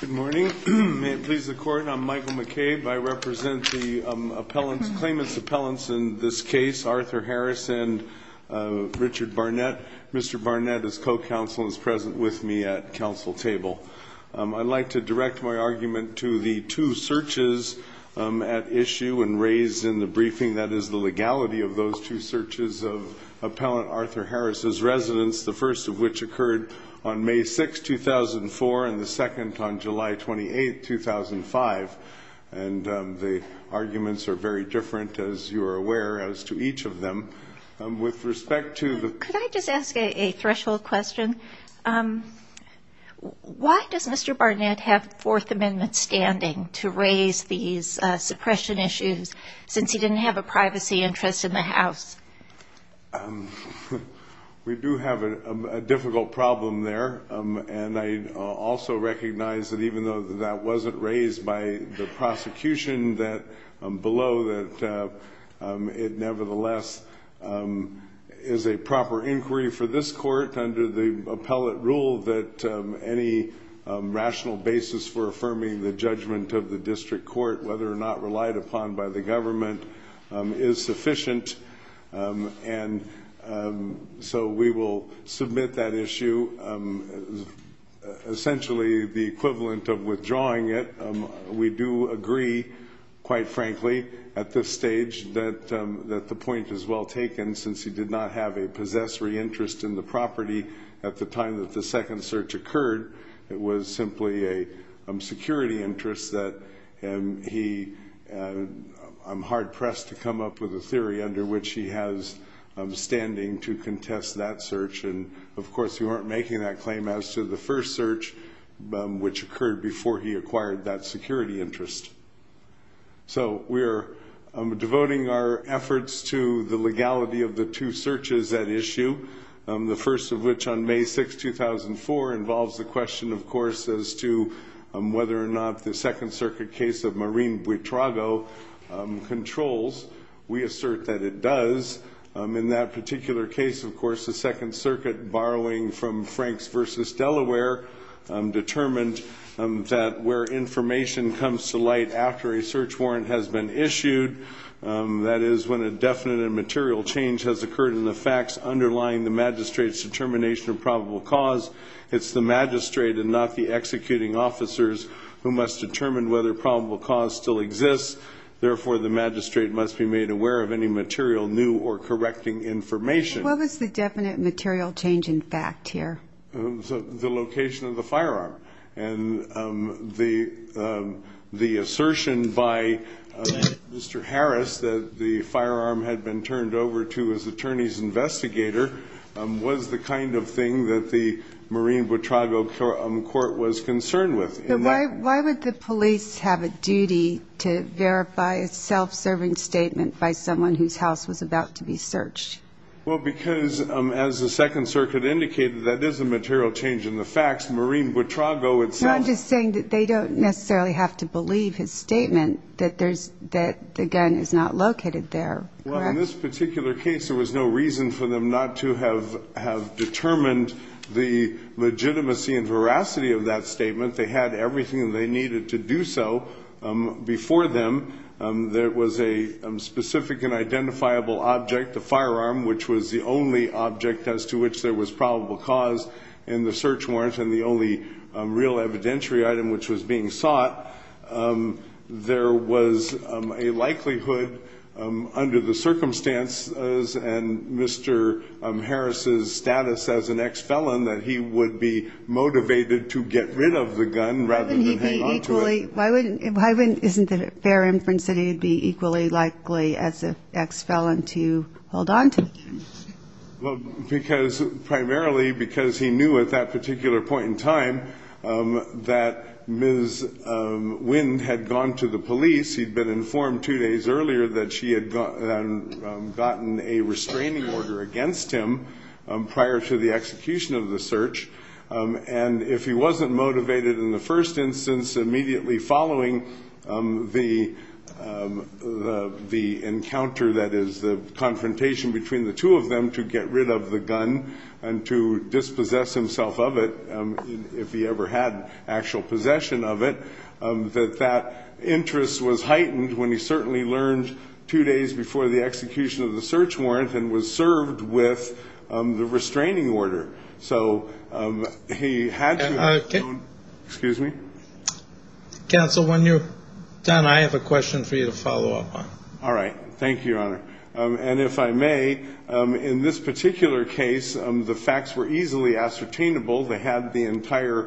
Good morning. May it please the Court, I'm Michael McCabe. I represent the claimants' appellants in this case, Arthur Harris and Richard Barnett. Mr. Barnett is co-counsel and is present with me at counsel table. I'd like to direct my argument to the two searches at issue and raised in the briefing, that is the legality of those two searches of appellant Arthur Harris's residence, the first of which occurred on May 6, 2004, and the second on July 28, 2005. And the arguments are very different, as you are aware, as to each of them. With respect to Could I just ask a threshold question? Why does Mr. Barnett have Fourth Amendment standing to raise these suppression issues, since he didn't have a privacy interest in the House? We do have a difficult problem there, and I also recognize that even though that wasn't raised by the prosecution below, that it nevertheless is a proper inquiry for this court under the appellate rule that any rational basis for affirming the judgment of the district court, whether or not relied upon by the government, is sufficient. And so we will submit that issue, essentially the equivalent of withdrawing it. We do agree, quite frankly, at this stage that that the point is well taken, since he did not have a possessory interest in the property at the time that the second search occurred. It was simply a security interest that he, I'm hard pressed to come up with a theory under which he has standing to contest that search. And of course, we weren't making that claim as to the first search, which occurred before he acquired that security interest. So we're devoting our efforts to the legality of the two searches at issue, the first of which on May 6, 2004, involves the question, of course, as to whether or not the Second Circuit case of Marine Buitrago controls. We assert that it does. In that particular case, of course, the Second Circuit, borrowing from Franks v. Delaware, determined that where information comes to light after a search warrant has been issued, that is when a definite and material change has been made to the probable cause, it's the magistrate and not the executing officers who must determine whether probable cause still exists. Therefore, the magistrate must be made aware of any material new or correcting information. What was the definite material change in fact here? The location of the firearm. And the assertion by Mr. Harris that the firearm had been turned over to his client, that the Marine Buitrago court was concerned with. But why would the police have a duty to verify a self-serving statement by someone whose house was about to be searched? Well, because, as the Second Circuit indicated, that is a material change in the facts. Marine Buitrago itself... No, I'm just saying that they don't necessarily have to believe his statement that the gun is not located there. Well, in this particular case, there was no reason for them not to have determined the legitimacy and veracity of that statement. They had everything they needed to do so before them. There was a specific and identifiable object, the firearm, which was the only object as to which there was probable cause in the search warrant and the only real evidentiary item which was being sought. There was a likelihood, under the circumstances and Mr. Harris's status as an ex-felon, that he would be motivated to get rid of the gun rather than hang on to it. Why wouldn't he be equally... Isn't it fair inference that he would be equally likely as an ex-felon to hold on to the gun? Well, primarily because he knew at that particular point in time that Ms. Wynne had gone to the police. He'd been informed two days earlier that she had gotten a restraining order against him prior to the execution of the search. And if he wasn't motivated in the first instance, immediately following the encounter that is the confrontation between the two of them to get rid of the gun and to dispossess himself of it, if he ever had actual possession of it, that interest was heightened when he certainly learned two days before the execution of the search warrant and was served with the restraining order. So he had to... Excuse me? Counsel, when you're done, I have a question for you to follow up on. All right. Thank you, Your Honor. And if I may, in this particular case, the entire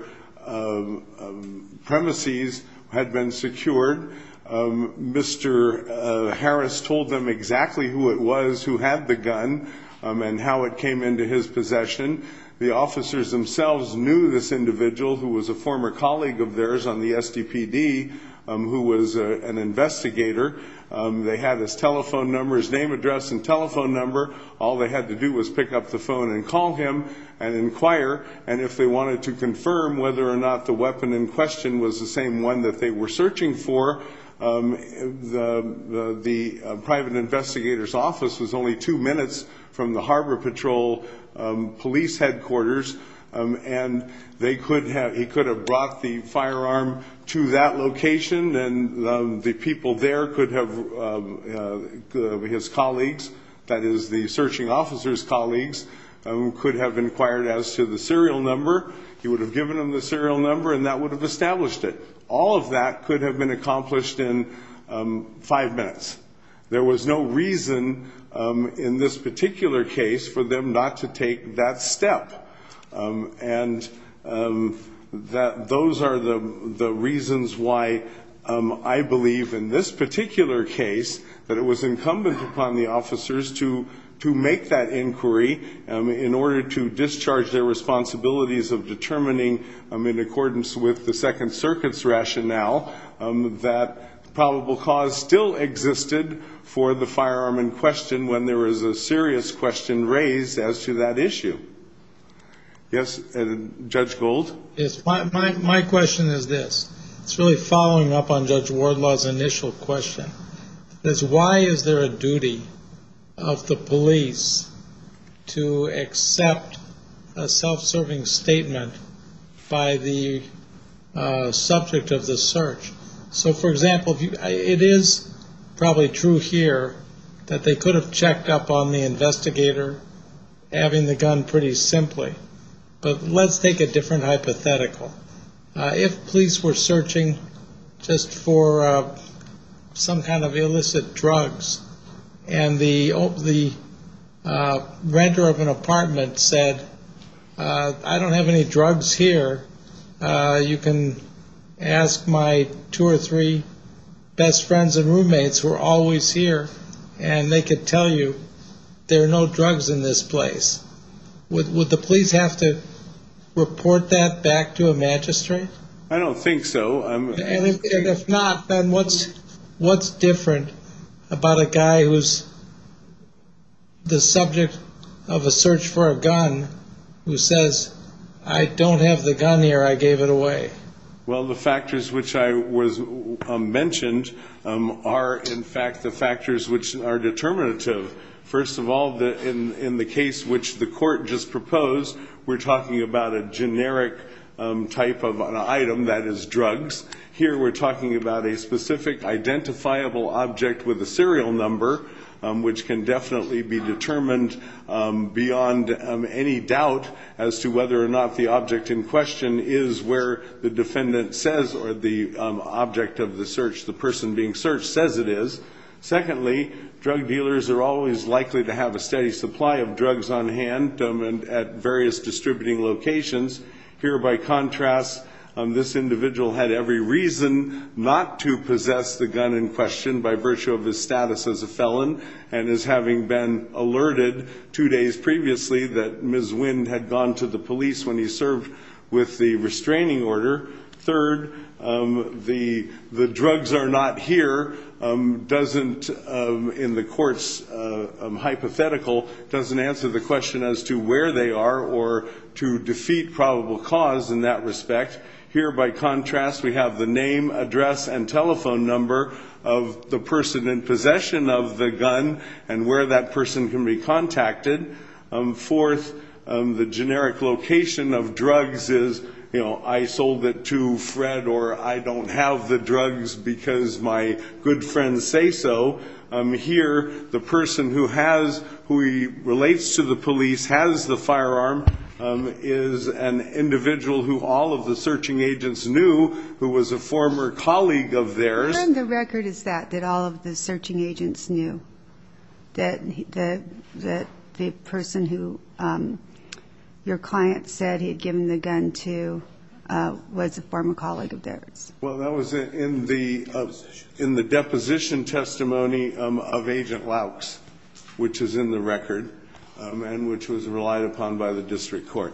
premises had been secured. Mr. Harris told them exactly who it was who had the gun and how it came into his possession. The officers themselves knew this individual who was a former colleague of theirs on the SDPD who was an investigator. They had his telephone number, his name address, and telephone number. All they had to do was pick up the phone and call him and inquire. And if they wanted to confirm whether or not the weapon in question was the same one that they were searching for, the private investigator's office was only two minutes from the Harbor Patrol police headquarters. And they could have... He could have brought the firearm to that location and the people there could have... His colleagues, that is the searching officer's colleagues, could have inquired as to the serial number. He would have given them the serial number and that would have established it. All of that could have been accomplished in five minutes. There was no reason in this particular case for them not to take that step. And those are the reasons why I believe in this particular case that it was incumbent upon the officers to make that inquiry in order to discharge their responsibilities of determining in accordance with the Second Circuit's rationale that probable cause still existed for the firearm in question when there was a serious question raised as to that issue. Yes, Judge Gold? Yes. My question is this. It's really following up on Judge Wardlaw's initial question. Why is there a duty of the police to accept a self-serving statement by the subject of the search? So, for example, it is probably true here that they could have checked up on the investigator having the gun pretty simply. But let's take a different hypothetical. If police were searching just for some kind of illicit drugs and the renter of an apartment said, I don't have any drugs here. You can ask my two or three best friends and roommates who are always here and they could tell you there are no drugs in this place. Would the police have to report that back to a magistrate? I don't think so. And if not, then what's different about a guy who's the subject of a search for a gun who says, I don't have the gun here. I gave it away. Well, the factors which I mentioned are, in fact, the factors which are determinative. First of all, in the case which the court just proposed, we're talking about an item that is drugs. Here, we're talking about a specific identifiable object with a serial number, which can definitely be determined beyond any doubt as to whether or not the object in question is where the defendant says or the object of the search, the person being searched, says it is. Secondly, drug dealers are always likely to have a steady supply of drugs on hand at various distributing locations. Here, by contrast, this individual had every reason not to possess the gun in question by virtue of his status as a felon and as having been alerted two days previously that Ms. Wind had gone to the police when he served with the restraining order. Third, the drugs are not here, doesn't, in the court's hypothetical, doesn't answer the question as to where they are or to defeat probable cause in that respect. Here, by contrast, we have the name, address, and telephone number of the person in possession of the gun and where that person can be contacted. Fourth, the generic location of drugs is, you know, I sold it to Fred or I don't have the gun, as my good friends say so. Here, the person who has, who relates to the police, has the firearm, is an individual who all of the searching agents knew who was a former colleague of theirs. And the record is that, that all of the searching agents knew that the person who your client said he had given the gun to was a former colleague of theirs. Well, that was in the, in the deposition testimony of Agent Lauks, which is in the record and which was relied upon by the district court.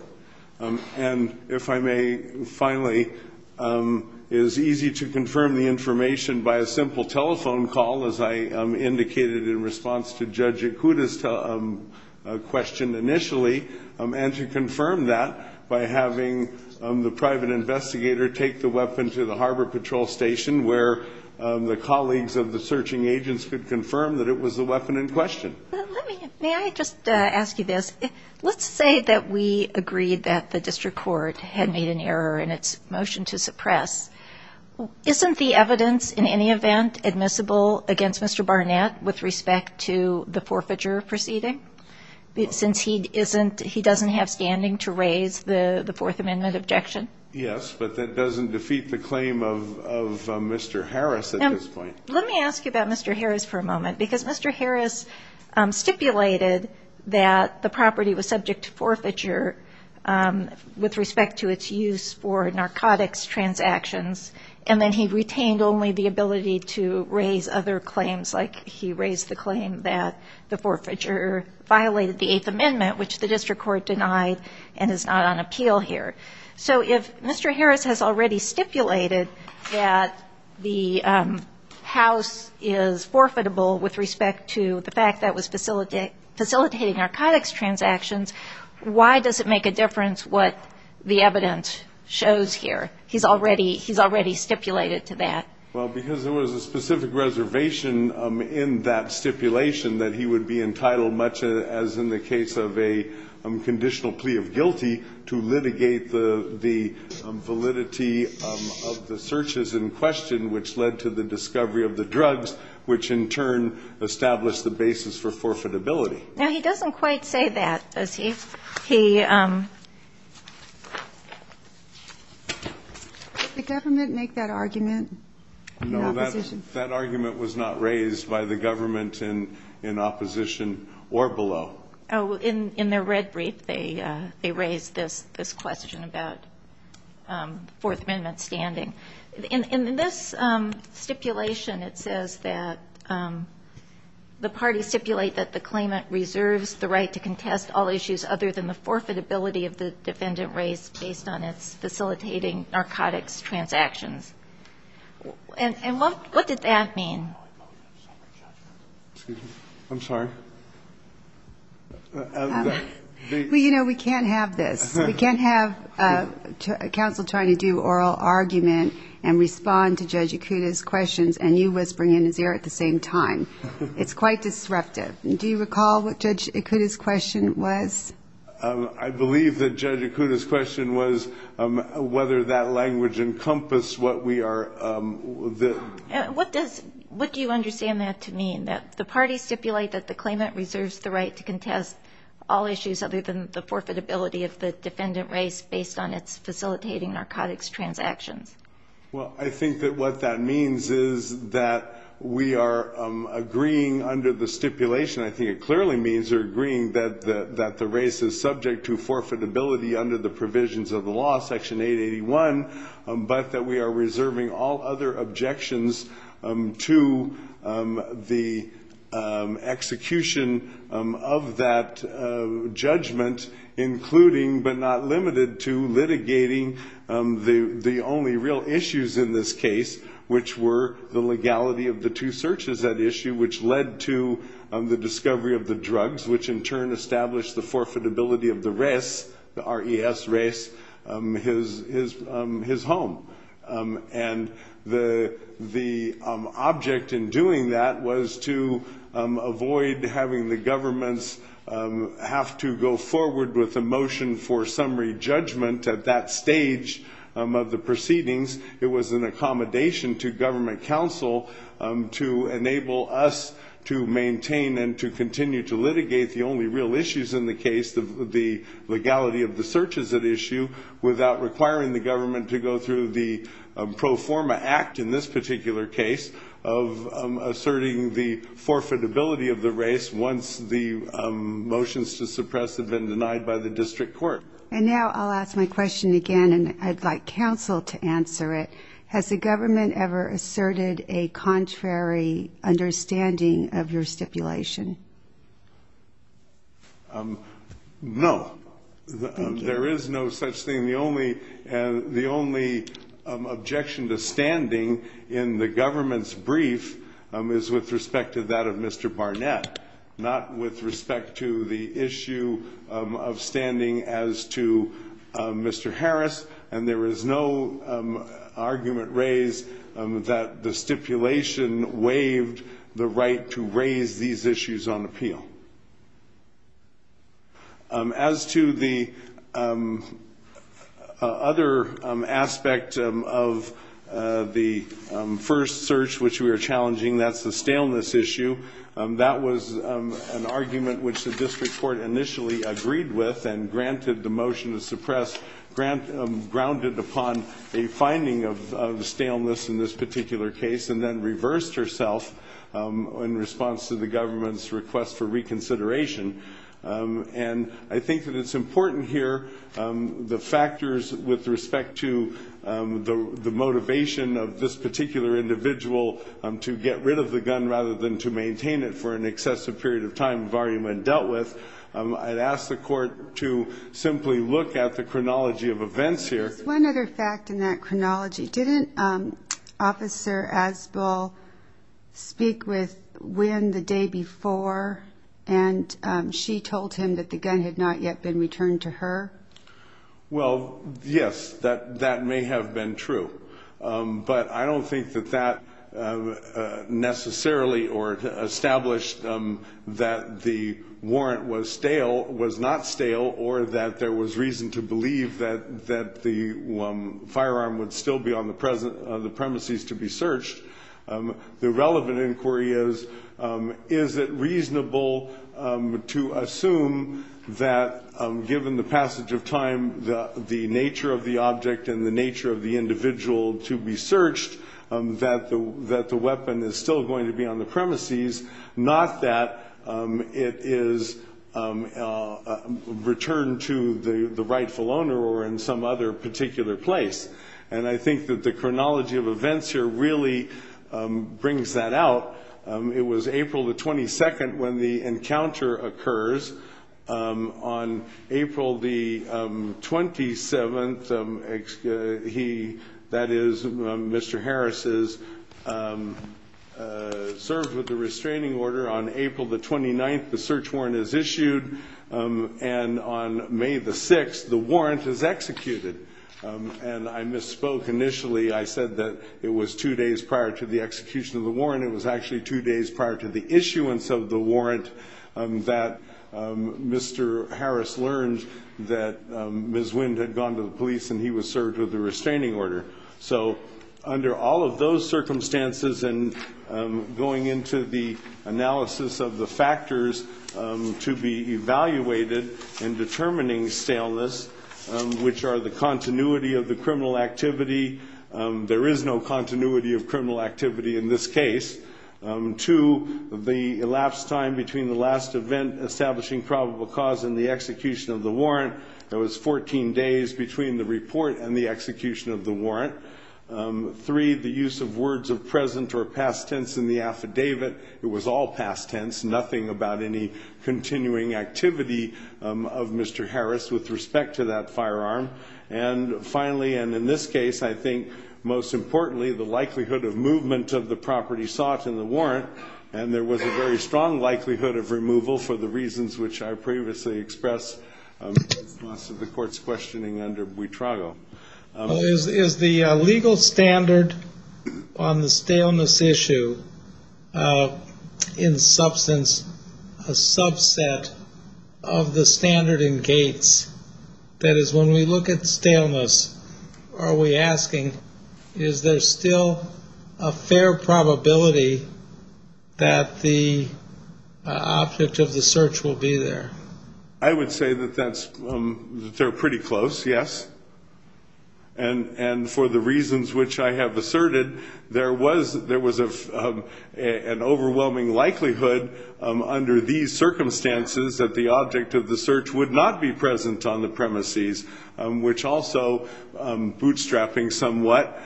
And if I may, finally, it is easy to confirm the information by a simple telephone call, as I indicated in response to Judge Ikuda's question initially, and to confirm that by having the private investigator take the weapon to the Harbor Patrol Station, where the colleagues of the searching agents could confirm that it was the weapon in question. May I just ask you this? Let's say that we agreed that the district court had made an error in its motion to suppress. Isn't the evidence, in any event, admissible against Mr. Barnett with respect to the forfeiture proceeding? Since he isn't, he doesn't have standing to raise the Fourth Amendment objection? Yes, but that doesn't defeat the claim of Mr. Harris at this point. Let me ask you about Mr. Harris for a moment, because Mr. Harris stipulated that the property was subject to forfeiture with respect to its use for narcotics transactions, and then he retained only the ability to raise other claims, like he raised the claim that the forfeiture violated the Eighth Amendment, which the district court denied and is not on appeal here. So if Mr. Harris has already stipulated that the house is forfeitable with respect to the fact that it was facilitating narcotics transactions, why does it make a difference what the evidence shows here? He's already stipulated to that. Well, because there was a specific reservation in that stipulation that he would be entitled, much as in the case of a conditional plea of guilty, to litigate the validity of the searches in question, which led to the discovery of the drugs, which, in turn, established the basis for forfeitability. Now, he doesn't quite say that, does he? He... Did the government make that argument in opposition? No, that argument was not raised by the government in opposition or below. Oh, in their red brief, they raised this question about Fourth Amendment standing. In this stipulation, it says that the parties stipulate that the claimant reserves the right to contest all issues other than the forfeitability of the facilities facilitating narcotics transactions. And what did that mean? I'm sorry. Well, you know, we can't have this. We can't have counsel trying to do oral argument and respond to Judge Ikuda's questions and you whispering in his ear at the same time. It's quite disruptive. Do you recall what Judge Ikuda's question was? I believe that Judge Ikuda's question was whether that language encompassed what we are... What does... What do you understand that to mean? That the parties stipulate that the claimant reserves the right to contest all issues other than the forfeitability of the defendant race based on its facilitating narcotics transactions. Well, I think that what that means is that we are agreeing under the provisions of the law, Section 881, but that we are reserving all other objections to the execution of that judgment, including but not limited to litigating the only real issues in this case, which were the legality of the two searches at issue, which led to the discovery of the drugs, which in turn established the forfeitability of the race, the RES race, his home. And the object in doing that was to avoid having the governments have to go forward with a motion for summary judgment at that stage of the proceedings. It was an accommodation to government counsel to enable us to maintain and to address the real issues in the case, the legality of the searches at issue without requiring the government to go through the pro forma act in this particular case of asserting the forfeitability of the race once the motions to suppress have been denied by the district court. And now I'll ask my question again, and I'd like counsel to answer it. Has the government ever asserted a contrary understanding of your stipulation? No, there is no such thing. The only objection to standing in the government's brief is with respect to that of Mr. Barnett, not with respect to the issue of standing as to Mr. Harris. And there is no argument raised that the stipulation waived the right to raise these issues on appeal. As to the other aspect of the first search which we are challenging, that's the staleness issue. That was an argument which the district court initially agreed with and granted the motion to suppress, grounded upon a finding of staleness in this particular case, and then reversed herself in response to the government's request for reconsideration. And I think that it's important here, the factors with respect to the motivation of this particular individual to get rid of the gun rather than to maintain it for an excessive period of time, the argument dealt with, I'd ask the court to simply look at the chronology of events here. One other fact in that chronology, didn't Officer Asbell speak with Wynn the day before and she told him that the gun had not yet been returned to her? Well, yes, that may have been true. But I don't think that that necessarily or established that the warrant was not stale or that there was reason to the firearm would still be on the premises to be searched. The relevant inquiry is, is it reasonable to assume that given the passage of time, the nature of the object and the nature of the individual to be searched, that the weapon is still going to be on the premises, not that it is returned to the rightful owner or in some other particular place. And I think that the chronology of events here really brings that out. It was April the 22nd when the encounter occurs. On April the 27th, he, that is Mr. Harris's, served with the restraining order. On April the 29th, the search warrant is issued. And on May the 6th, the warrant is executed. And I misspoke initially. I said that it was two days prior to the execution of the warrant. It was actually two days prior to the issuance of the warrant that Mr. Harris learned that Ms. Wynn had gone to the police and he was served with the restraining order. So under all of those circumstances and going into the evaluated and determining staleness, which are the continuity of the criminal activity, there is no continuity of criminal activity in this case. Two, the elapsed time between the last event establishing probable cause and the execution of the warrant, that was 14 days between the report and the execution of the warrant. Three, the use of words of present or past tense in the affidavit. It was all past tense, nothing about any activity of Mr. Harris with respect to that firearm. And finally, and in this case, I think most importantly, the likelihood of movement of the property sought in the warrant. And there was a very strong likelihood of removal for the reasons which I previously expressed in response to the court's questioning under Buitrago. Is the legal standard on the staleness issue in substance a subset of the standard in Gates? That is, when we look at staleness, are we asking, is there still a fair probability that the object of the search will be there? I would say that that's, they're pretty close, yes. And for the reasons which I have asserted, there was an overwhelming likelihood under these circumstances that the object of the search would not be present on the premises, which also, bootstrapping somewhat,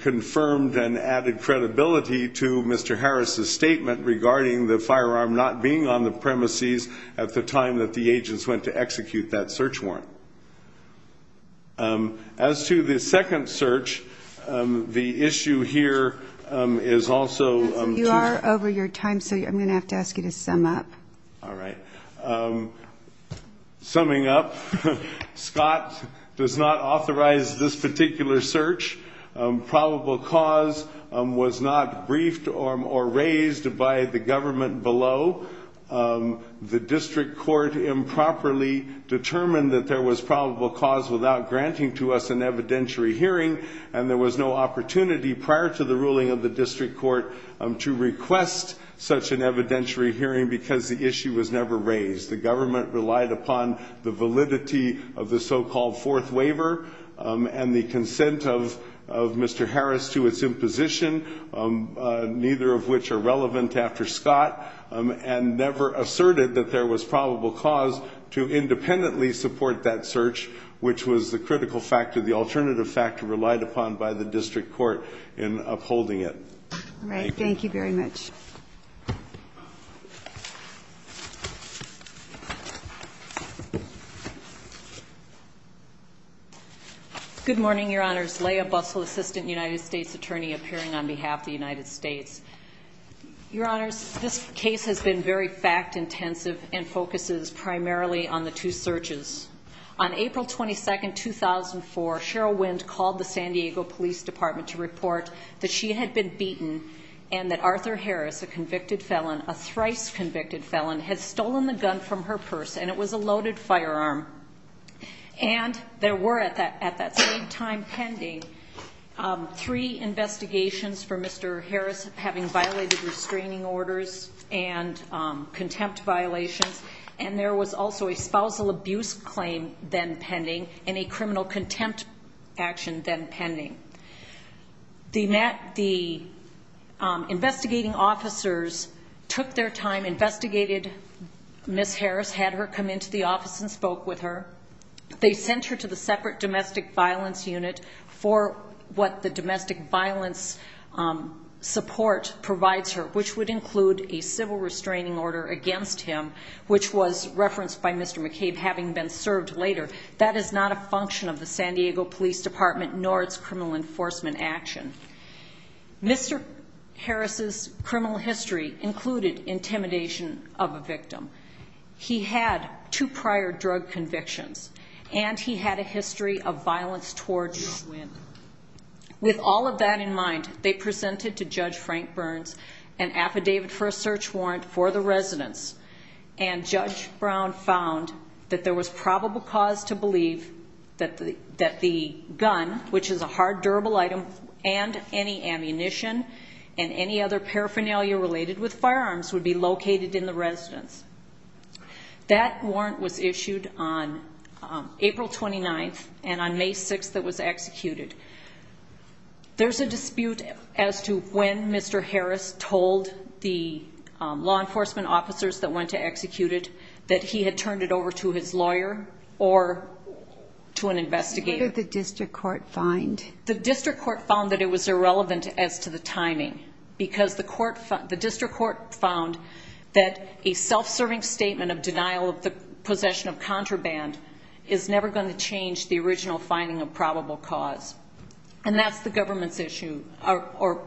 confirmed and added credibility to Mr. Harris's statement regarding the firearm not being on the premises at the time that the agents went to execute that search warrant. As to the second search, the issue here is also... You are over your time, so I'm going to have to ask you to sum up. All right. Summing up, Scott does not authorize this particular search. Probable cause was not briefed or raised by the government below. The district court improperly determined that there was probable cause without granting to us an evidentiary hearing, and there was no opportunity prior to the ruling of the district court to request such an evidentiary hearing because the issue was never raised. The government relied upon the validity of the so-called fourth waiver and the consent of Mr. Harris to its imposition, neither of which are relevant after Scott, and never asserted that there was probable cause to independently support that search, which was the critical factor, the alternative factor relied upon by the district court in upholding it. All right. Thank you very much. Good morning, Your Honors. Leah Bussell, Assistant United States Attorney, appearing on behalf of the United States. Your Honors, this case has been very fact-intensive and focuses primarily on the two searches. On April 22nd, 2004, Cheryl Wind called the San Diego Police Department to report that she had been beaten and that Arthur Harris, a convicted felon, a thrice convicted felon, had stolen the gun from her purse, and it was a loaded firearm. And there were at that same time pending three investigations for Mr. Harris having violated restraining orders and contempt violations. And there was also a spousal abuse claim then pending and a criminal contempt action then pending. The investigating officers took their time, investigated Ms. Harris, let her come into the office and spoke with her. They sent her to the separate domestic violence unit for what the domestic violence support provides her, which would include a civil restraining order against him, which was referenced by Mr. McCabe having been served later. That is not a function of the San Diego Police Department, nor its criminal enforcement action. Mr. Harris's criminal history included intimidation of a victim. He had two prior drug convictions and he had a history of violence towards women. With all of that in mind, they presented to Judge Frank Burns an affidavit for a search warrant for the residence and Judge Brown found that there was probable cause to believe that the gun, which is a hard durable item and any ammunition and any other paraphernalia related with firearms would be located in the residence. That warrant was issued on April 29th and on May 6th that was executed. There's a dispute as to when Mr. Harris told the law enforcement officers that went to execute it that he had turned it over to his lawyer or to an investigator. What did the district court find? The district court found that it was irrelevant as to the timing because the district court found that a self-serving statement of denial of the possession of contraband is never going to change the original finding of probable cause. And that's the government's issue or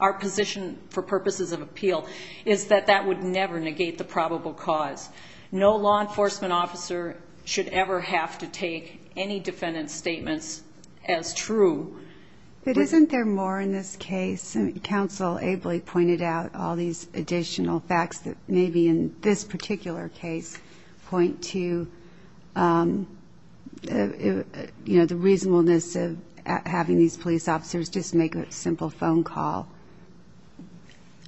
our position for purposes of appeal is that that would never negate the probable cause. No law enforcement officer should ever have to take any defendant's statements as true. But isn't there more in this case? And counsel ably pointed out all these additional facts that maybe in this particular case point to, you know, the reasonableness of having these police officers just make a simple phone call.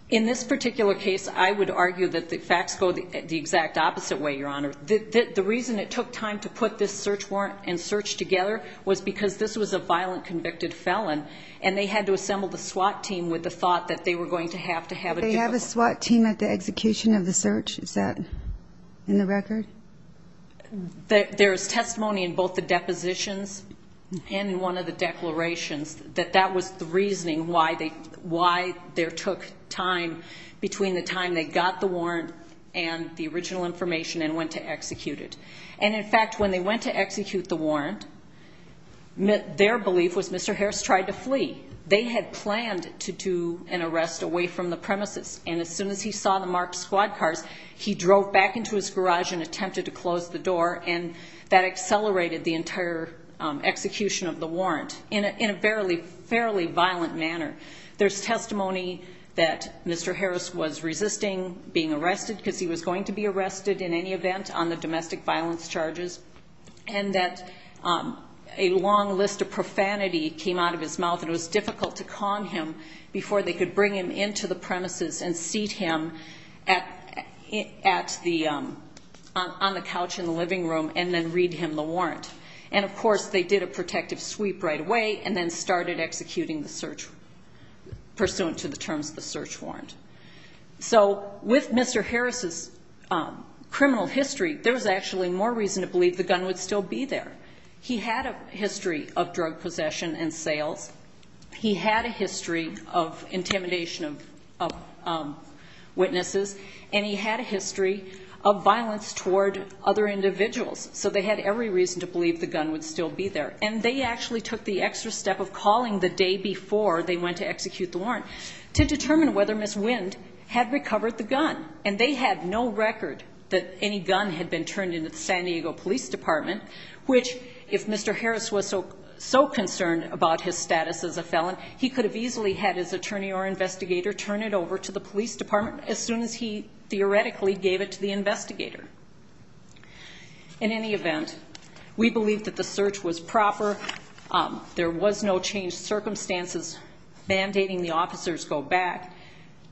In this particular case, I would argue that the facts go the exact opposite way, Your Honor. The reason it took time to put this search warrant and search together was because this was a violent convicted felon and they had to assemble the SWAT team with the thought that they were going to have to have a They have a SWAT team at the execution of the search? Is that in the record? There is testimony in both the depositions and in one of the declarations that that was the reasoning why they why there took time between the time they got the warrant and the original information and went to execute it. And in fact, when they went to execute the warrant, their belief was Mr. Harris tried to flee. They had planned to do an arrest away from the premises. And as soon as he saw the marked squad cars, he drove back into his garage and attempted to close the door and that accelerated the entire execution of the warrant in a fairly violent manner. There's testimony that Mr. Harris was resisting being arrested because he was going to be arrested in any event on the domestic violence charges and that a long list of profanity came out of his mouth and it was difficult to calm him before they could bring him into the premises and seat him at the on the couch in the living room and then read him the warrant. And of course they did a protective sweep right away and then started executing the search pursuant to the terms of the search warrant. So with Mr. Harris's criminal history, there was actually more reason to believe the gun would still be there. He had a history of drug possession and sales. He had a history of intimidation of witnesses and he had a history of violence toward other individuals. So they had every reason to believe the gun would still be there. And they actually took the extra step of calling the day before they went to execute the warrant to determine whether Ms. Wind had recovered the gun and they had no record that any gun had been turned into the San Diego police department, which if Mr. Harris was so concerned about his status as a felon, he could have easily had his attorney or investigator turn it over to the police department as soon as he theoretically gave it to the investigator. In any event, we believe that the search was proper. There was no changed circumstances mandating the officers go back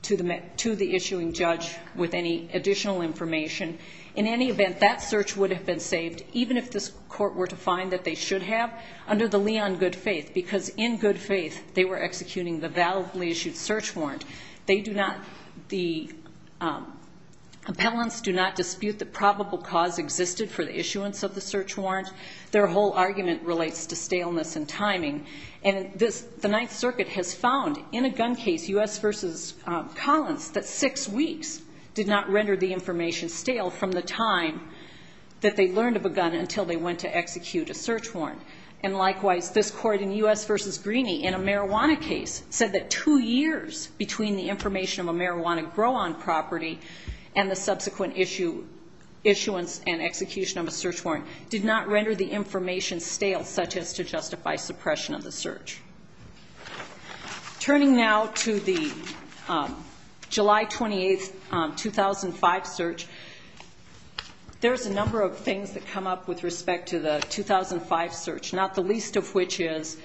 to the issuing judge with any additional information. In any event, that search would have been saved even if this court were to find that they should have under the liaison good faith, because in good faith, they were executing the validly issued search warrant. They do not, the appellants do not dispute the probable cause existed for the issuance of the search warrant. Their whole argument relates to staleness and timing. And this, the Ninth Circuit has found in a gun case, U.S. versus Collins, that six weeks did not render the information stale from the time that they learned of a gun until they went to execute a search warrant. And likewise, this court in U.S. versus Greeney in a marijuana case said that two years between the information of a marijuana grow on property and the subsequent issue, issuance and execution of a search warrant did not render the information stale, such as to justify suppression of the search. Turning now to the July 28th, 2005 search, there's a number of things that come up with respect to the 2005 search. Not the least of which is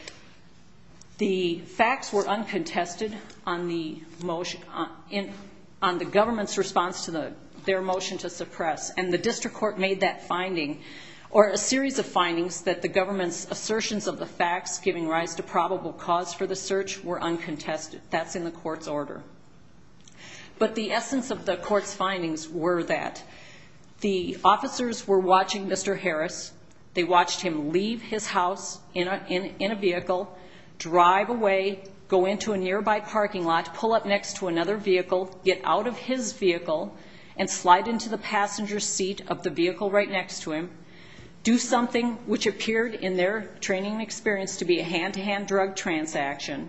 the facts were uncontested on the motion, on the government's response to their motion to suppress. And the district court made that finding, or a series of findings that the government's assertions of the facts giving rise to probable cause for the search were uncontested. That's in the court's order. But the essence of the court's findings were that the officers were watching Mr. Harris. They watched him leave his house in a vehicle, drive away, go into a nearby parking lot, pull up next to another vehicle, get out of his vehicle, and slide into the passenger seat of the vehicle right next to him, do something which appeared in their training and experience to be a hand-to-hand drug transaction,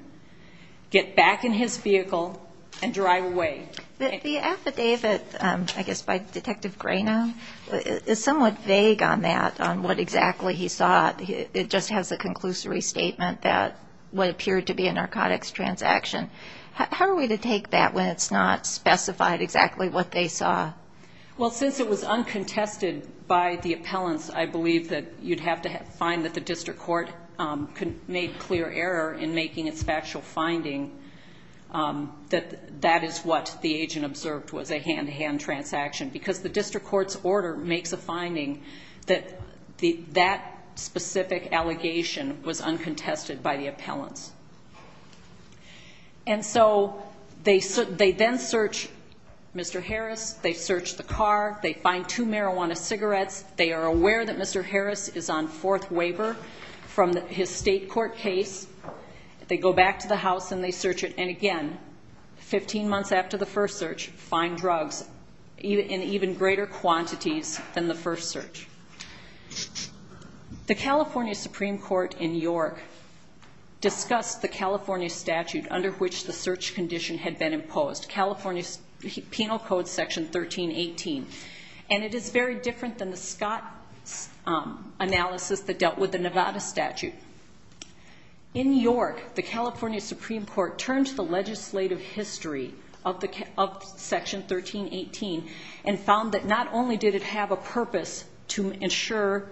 get back in his vehicle, and drive away. The affidavit, I guess by Detective Greeney, is somewhat vague on that, on what exactly he saw. It just has a conclusory statement that what appeared to be a narcotics transaction. How are we to take that when it's not specified exactly what they saw? Well, since it was uncontested by the appellants, I believe that you'd have to find that the district court made clear error in making its factual finding that that is what the agent observed was a hand-to-hand transaction. Because the district court's order makes a finding that that specific allegation was uncontested by the appellants. And so, they then search Mr. Harris, they search the car, they find two marijuana cigarettes, they are aware that Mr. Harris is on fourth waiver from his state court case, they go back to the house and they search it. And again, 15 months after the first search, find drugs in even greater quantities than the first search. The California Supreme Court in York discussed the California statute under which the search condition had been imposed, California Penal Code Section 1318. And it is very different than the Scott analysis that dealt with the Nevada statute. In York, the California Supreme Court turned to the legislative history of section 1318 and found that not only did it have a purpose to ensure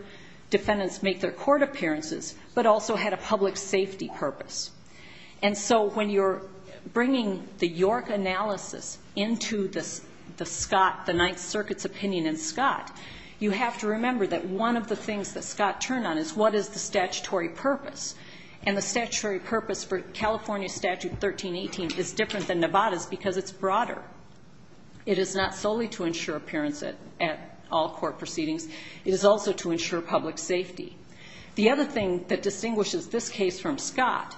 defendants make their court appearances, but also had a public safety purpose. And so, when you're bringing the York analysis into the Scott, the Ninth Circuit's opinion in Scott, you have to remember that one of the things that Scott turned on is what is the statutory purpose? And the statutory purpose for California statute 1318 is different than Nevada's because it's broader. It is not solely to ensure appearance at all court proceedings. It is also to ensure public safety. The other thing that distinguishes this case from Scott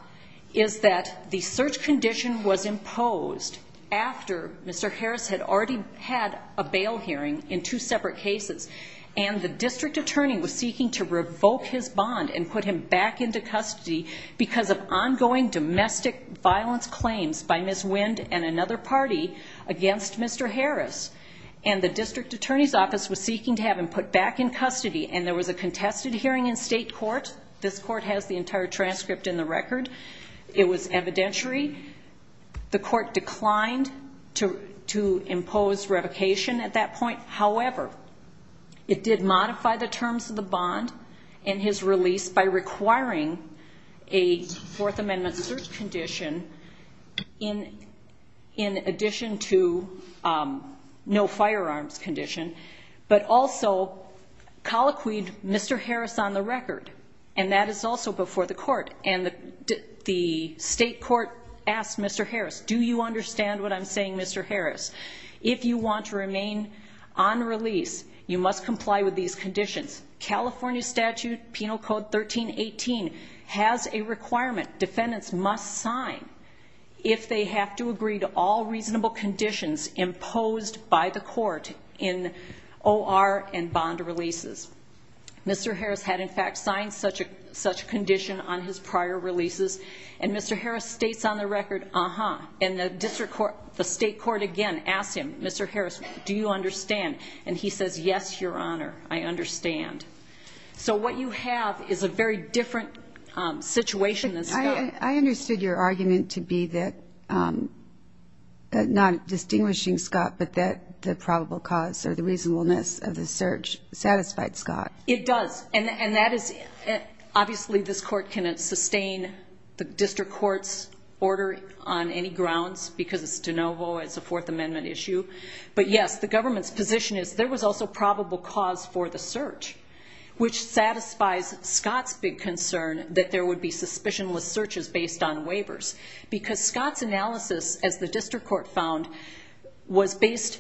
is that the search condition was imposed after Mr. Harris had already had a bail hearing in two separate cases. And the district attorney was seeking to revoke his bond and put him back into custody because of ongoing domestic violence claims by Ms. McCarty against Mr. Harris. And the district attorney's office was seeking to have him put back in custody. And there was a contested hearing in state court. This court has the entire transcript in the record. It was evidentiary. The court declined to impose revocation at that point. However, it did modify the terms of the bond and his release by requiring a fourth amendment search condition in addition to no firearms condition, but also colloquied Mr. Harris on the record. And that is also before the court and the state court asked Mr. Harris, do you understand what I'm saying? Mr. Harris, if you want to remain on release, you must comply with these has a requirement. Defendants must sign if they have to agree to all reasonable conditions imposed by the court in OR and bond releases. Mr. Harris had in fact signed such a such condition on his prior releases and Mr. Harris states on the record. Uh-huh. And the district court, the state court again asked him, Mr. Harris, do you understand? And he says, yes, your honor. I understand. So what you have is a very different situation. I understood your argument to be that, um, not distinguishing Scott, but that the probable cause or the reasonableness of the search satisfied Scott. It does. And, and that is obviously this court can sustain the district court's order on any grounds because it's de novo. It's a fourth amendment issue, but yes, the government's position is there was also probable cause for the search. Which satisfies Scott's big concern that there would be suspicionless searches based on waivers. Because Scott's analysis as the district court found was based,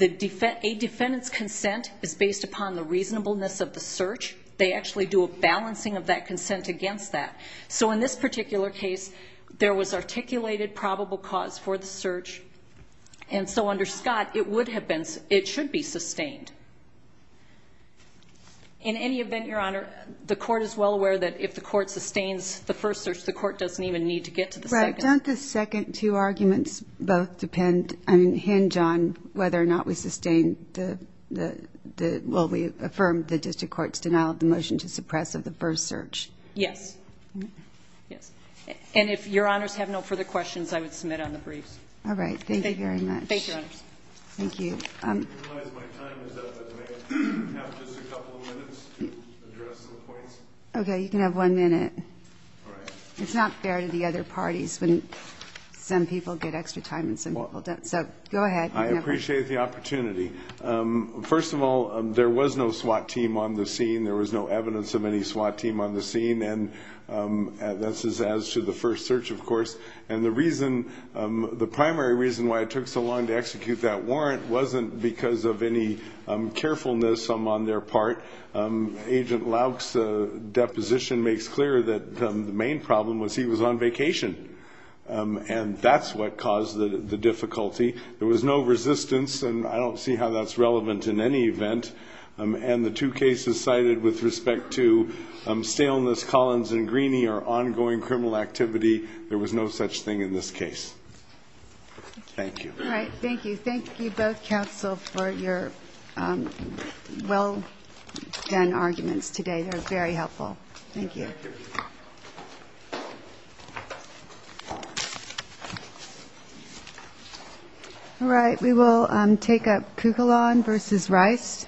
a defendant's consent is based upon the reasonableness of the search. They actually do a balancing of that consent against that. So in this particular case, there was articulated probable cause for the search. And so under Scott, it would have been, it should be sustained. In any event, your honor, the court is well aware that if the court sustains the first search, the court doesn't even need to get to the second. Don't the second two arguments both depend on hinge on whether or not we sustained the, the, the, well, we affirmed the district court's denial of the motion to suppress of the first search. Yes. Yes. And if your honors have no further questions, I would submit on the briefs. All right. Thank you very much. Thank you. Thank you. Okay. You can have one minute. It's not fair to the other parties when some people get extra time and some people don't. So go ahead. I appreciate the opportunity. First of all, there was no SWAT team on the scene. There was no evidence of any SWAT team on the scene. And this is as to the first search, of course. And the reason, the primary reason why it took so long to execute that warrant wasn't because of any carefulness on their part. Agent Louk's deposition makes clear that the main problem was he was on vacation and that's what caused the difficulty. There was no resistance. And I don't see how that's relevant in any event. And the two cases cited with respect to staleness Collins and Greeney are ongoing criminal activity. There was no such thing in this case. Thank you. All right. Thank you. Thank you both counsel for your well done arguments today. They're very helpful. Thank you. All right. We will take up Kugalon versus Rice.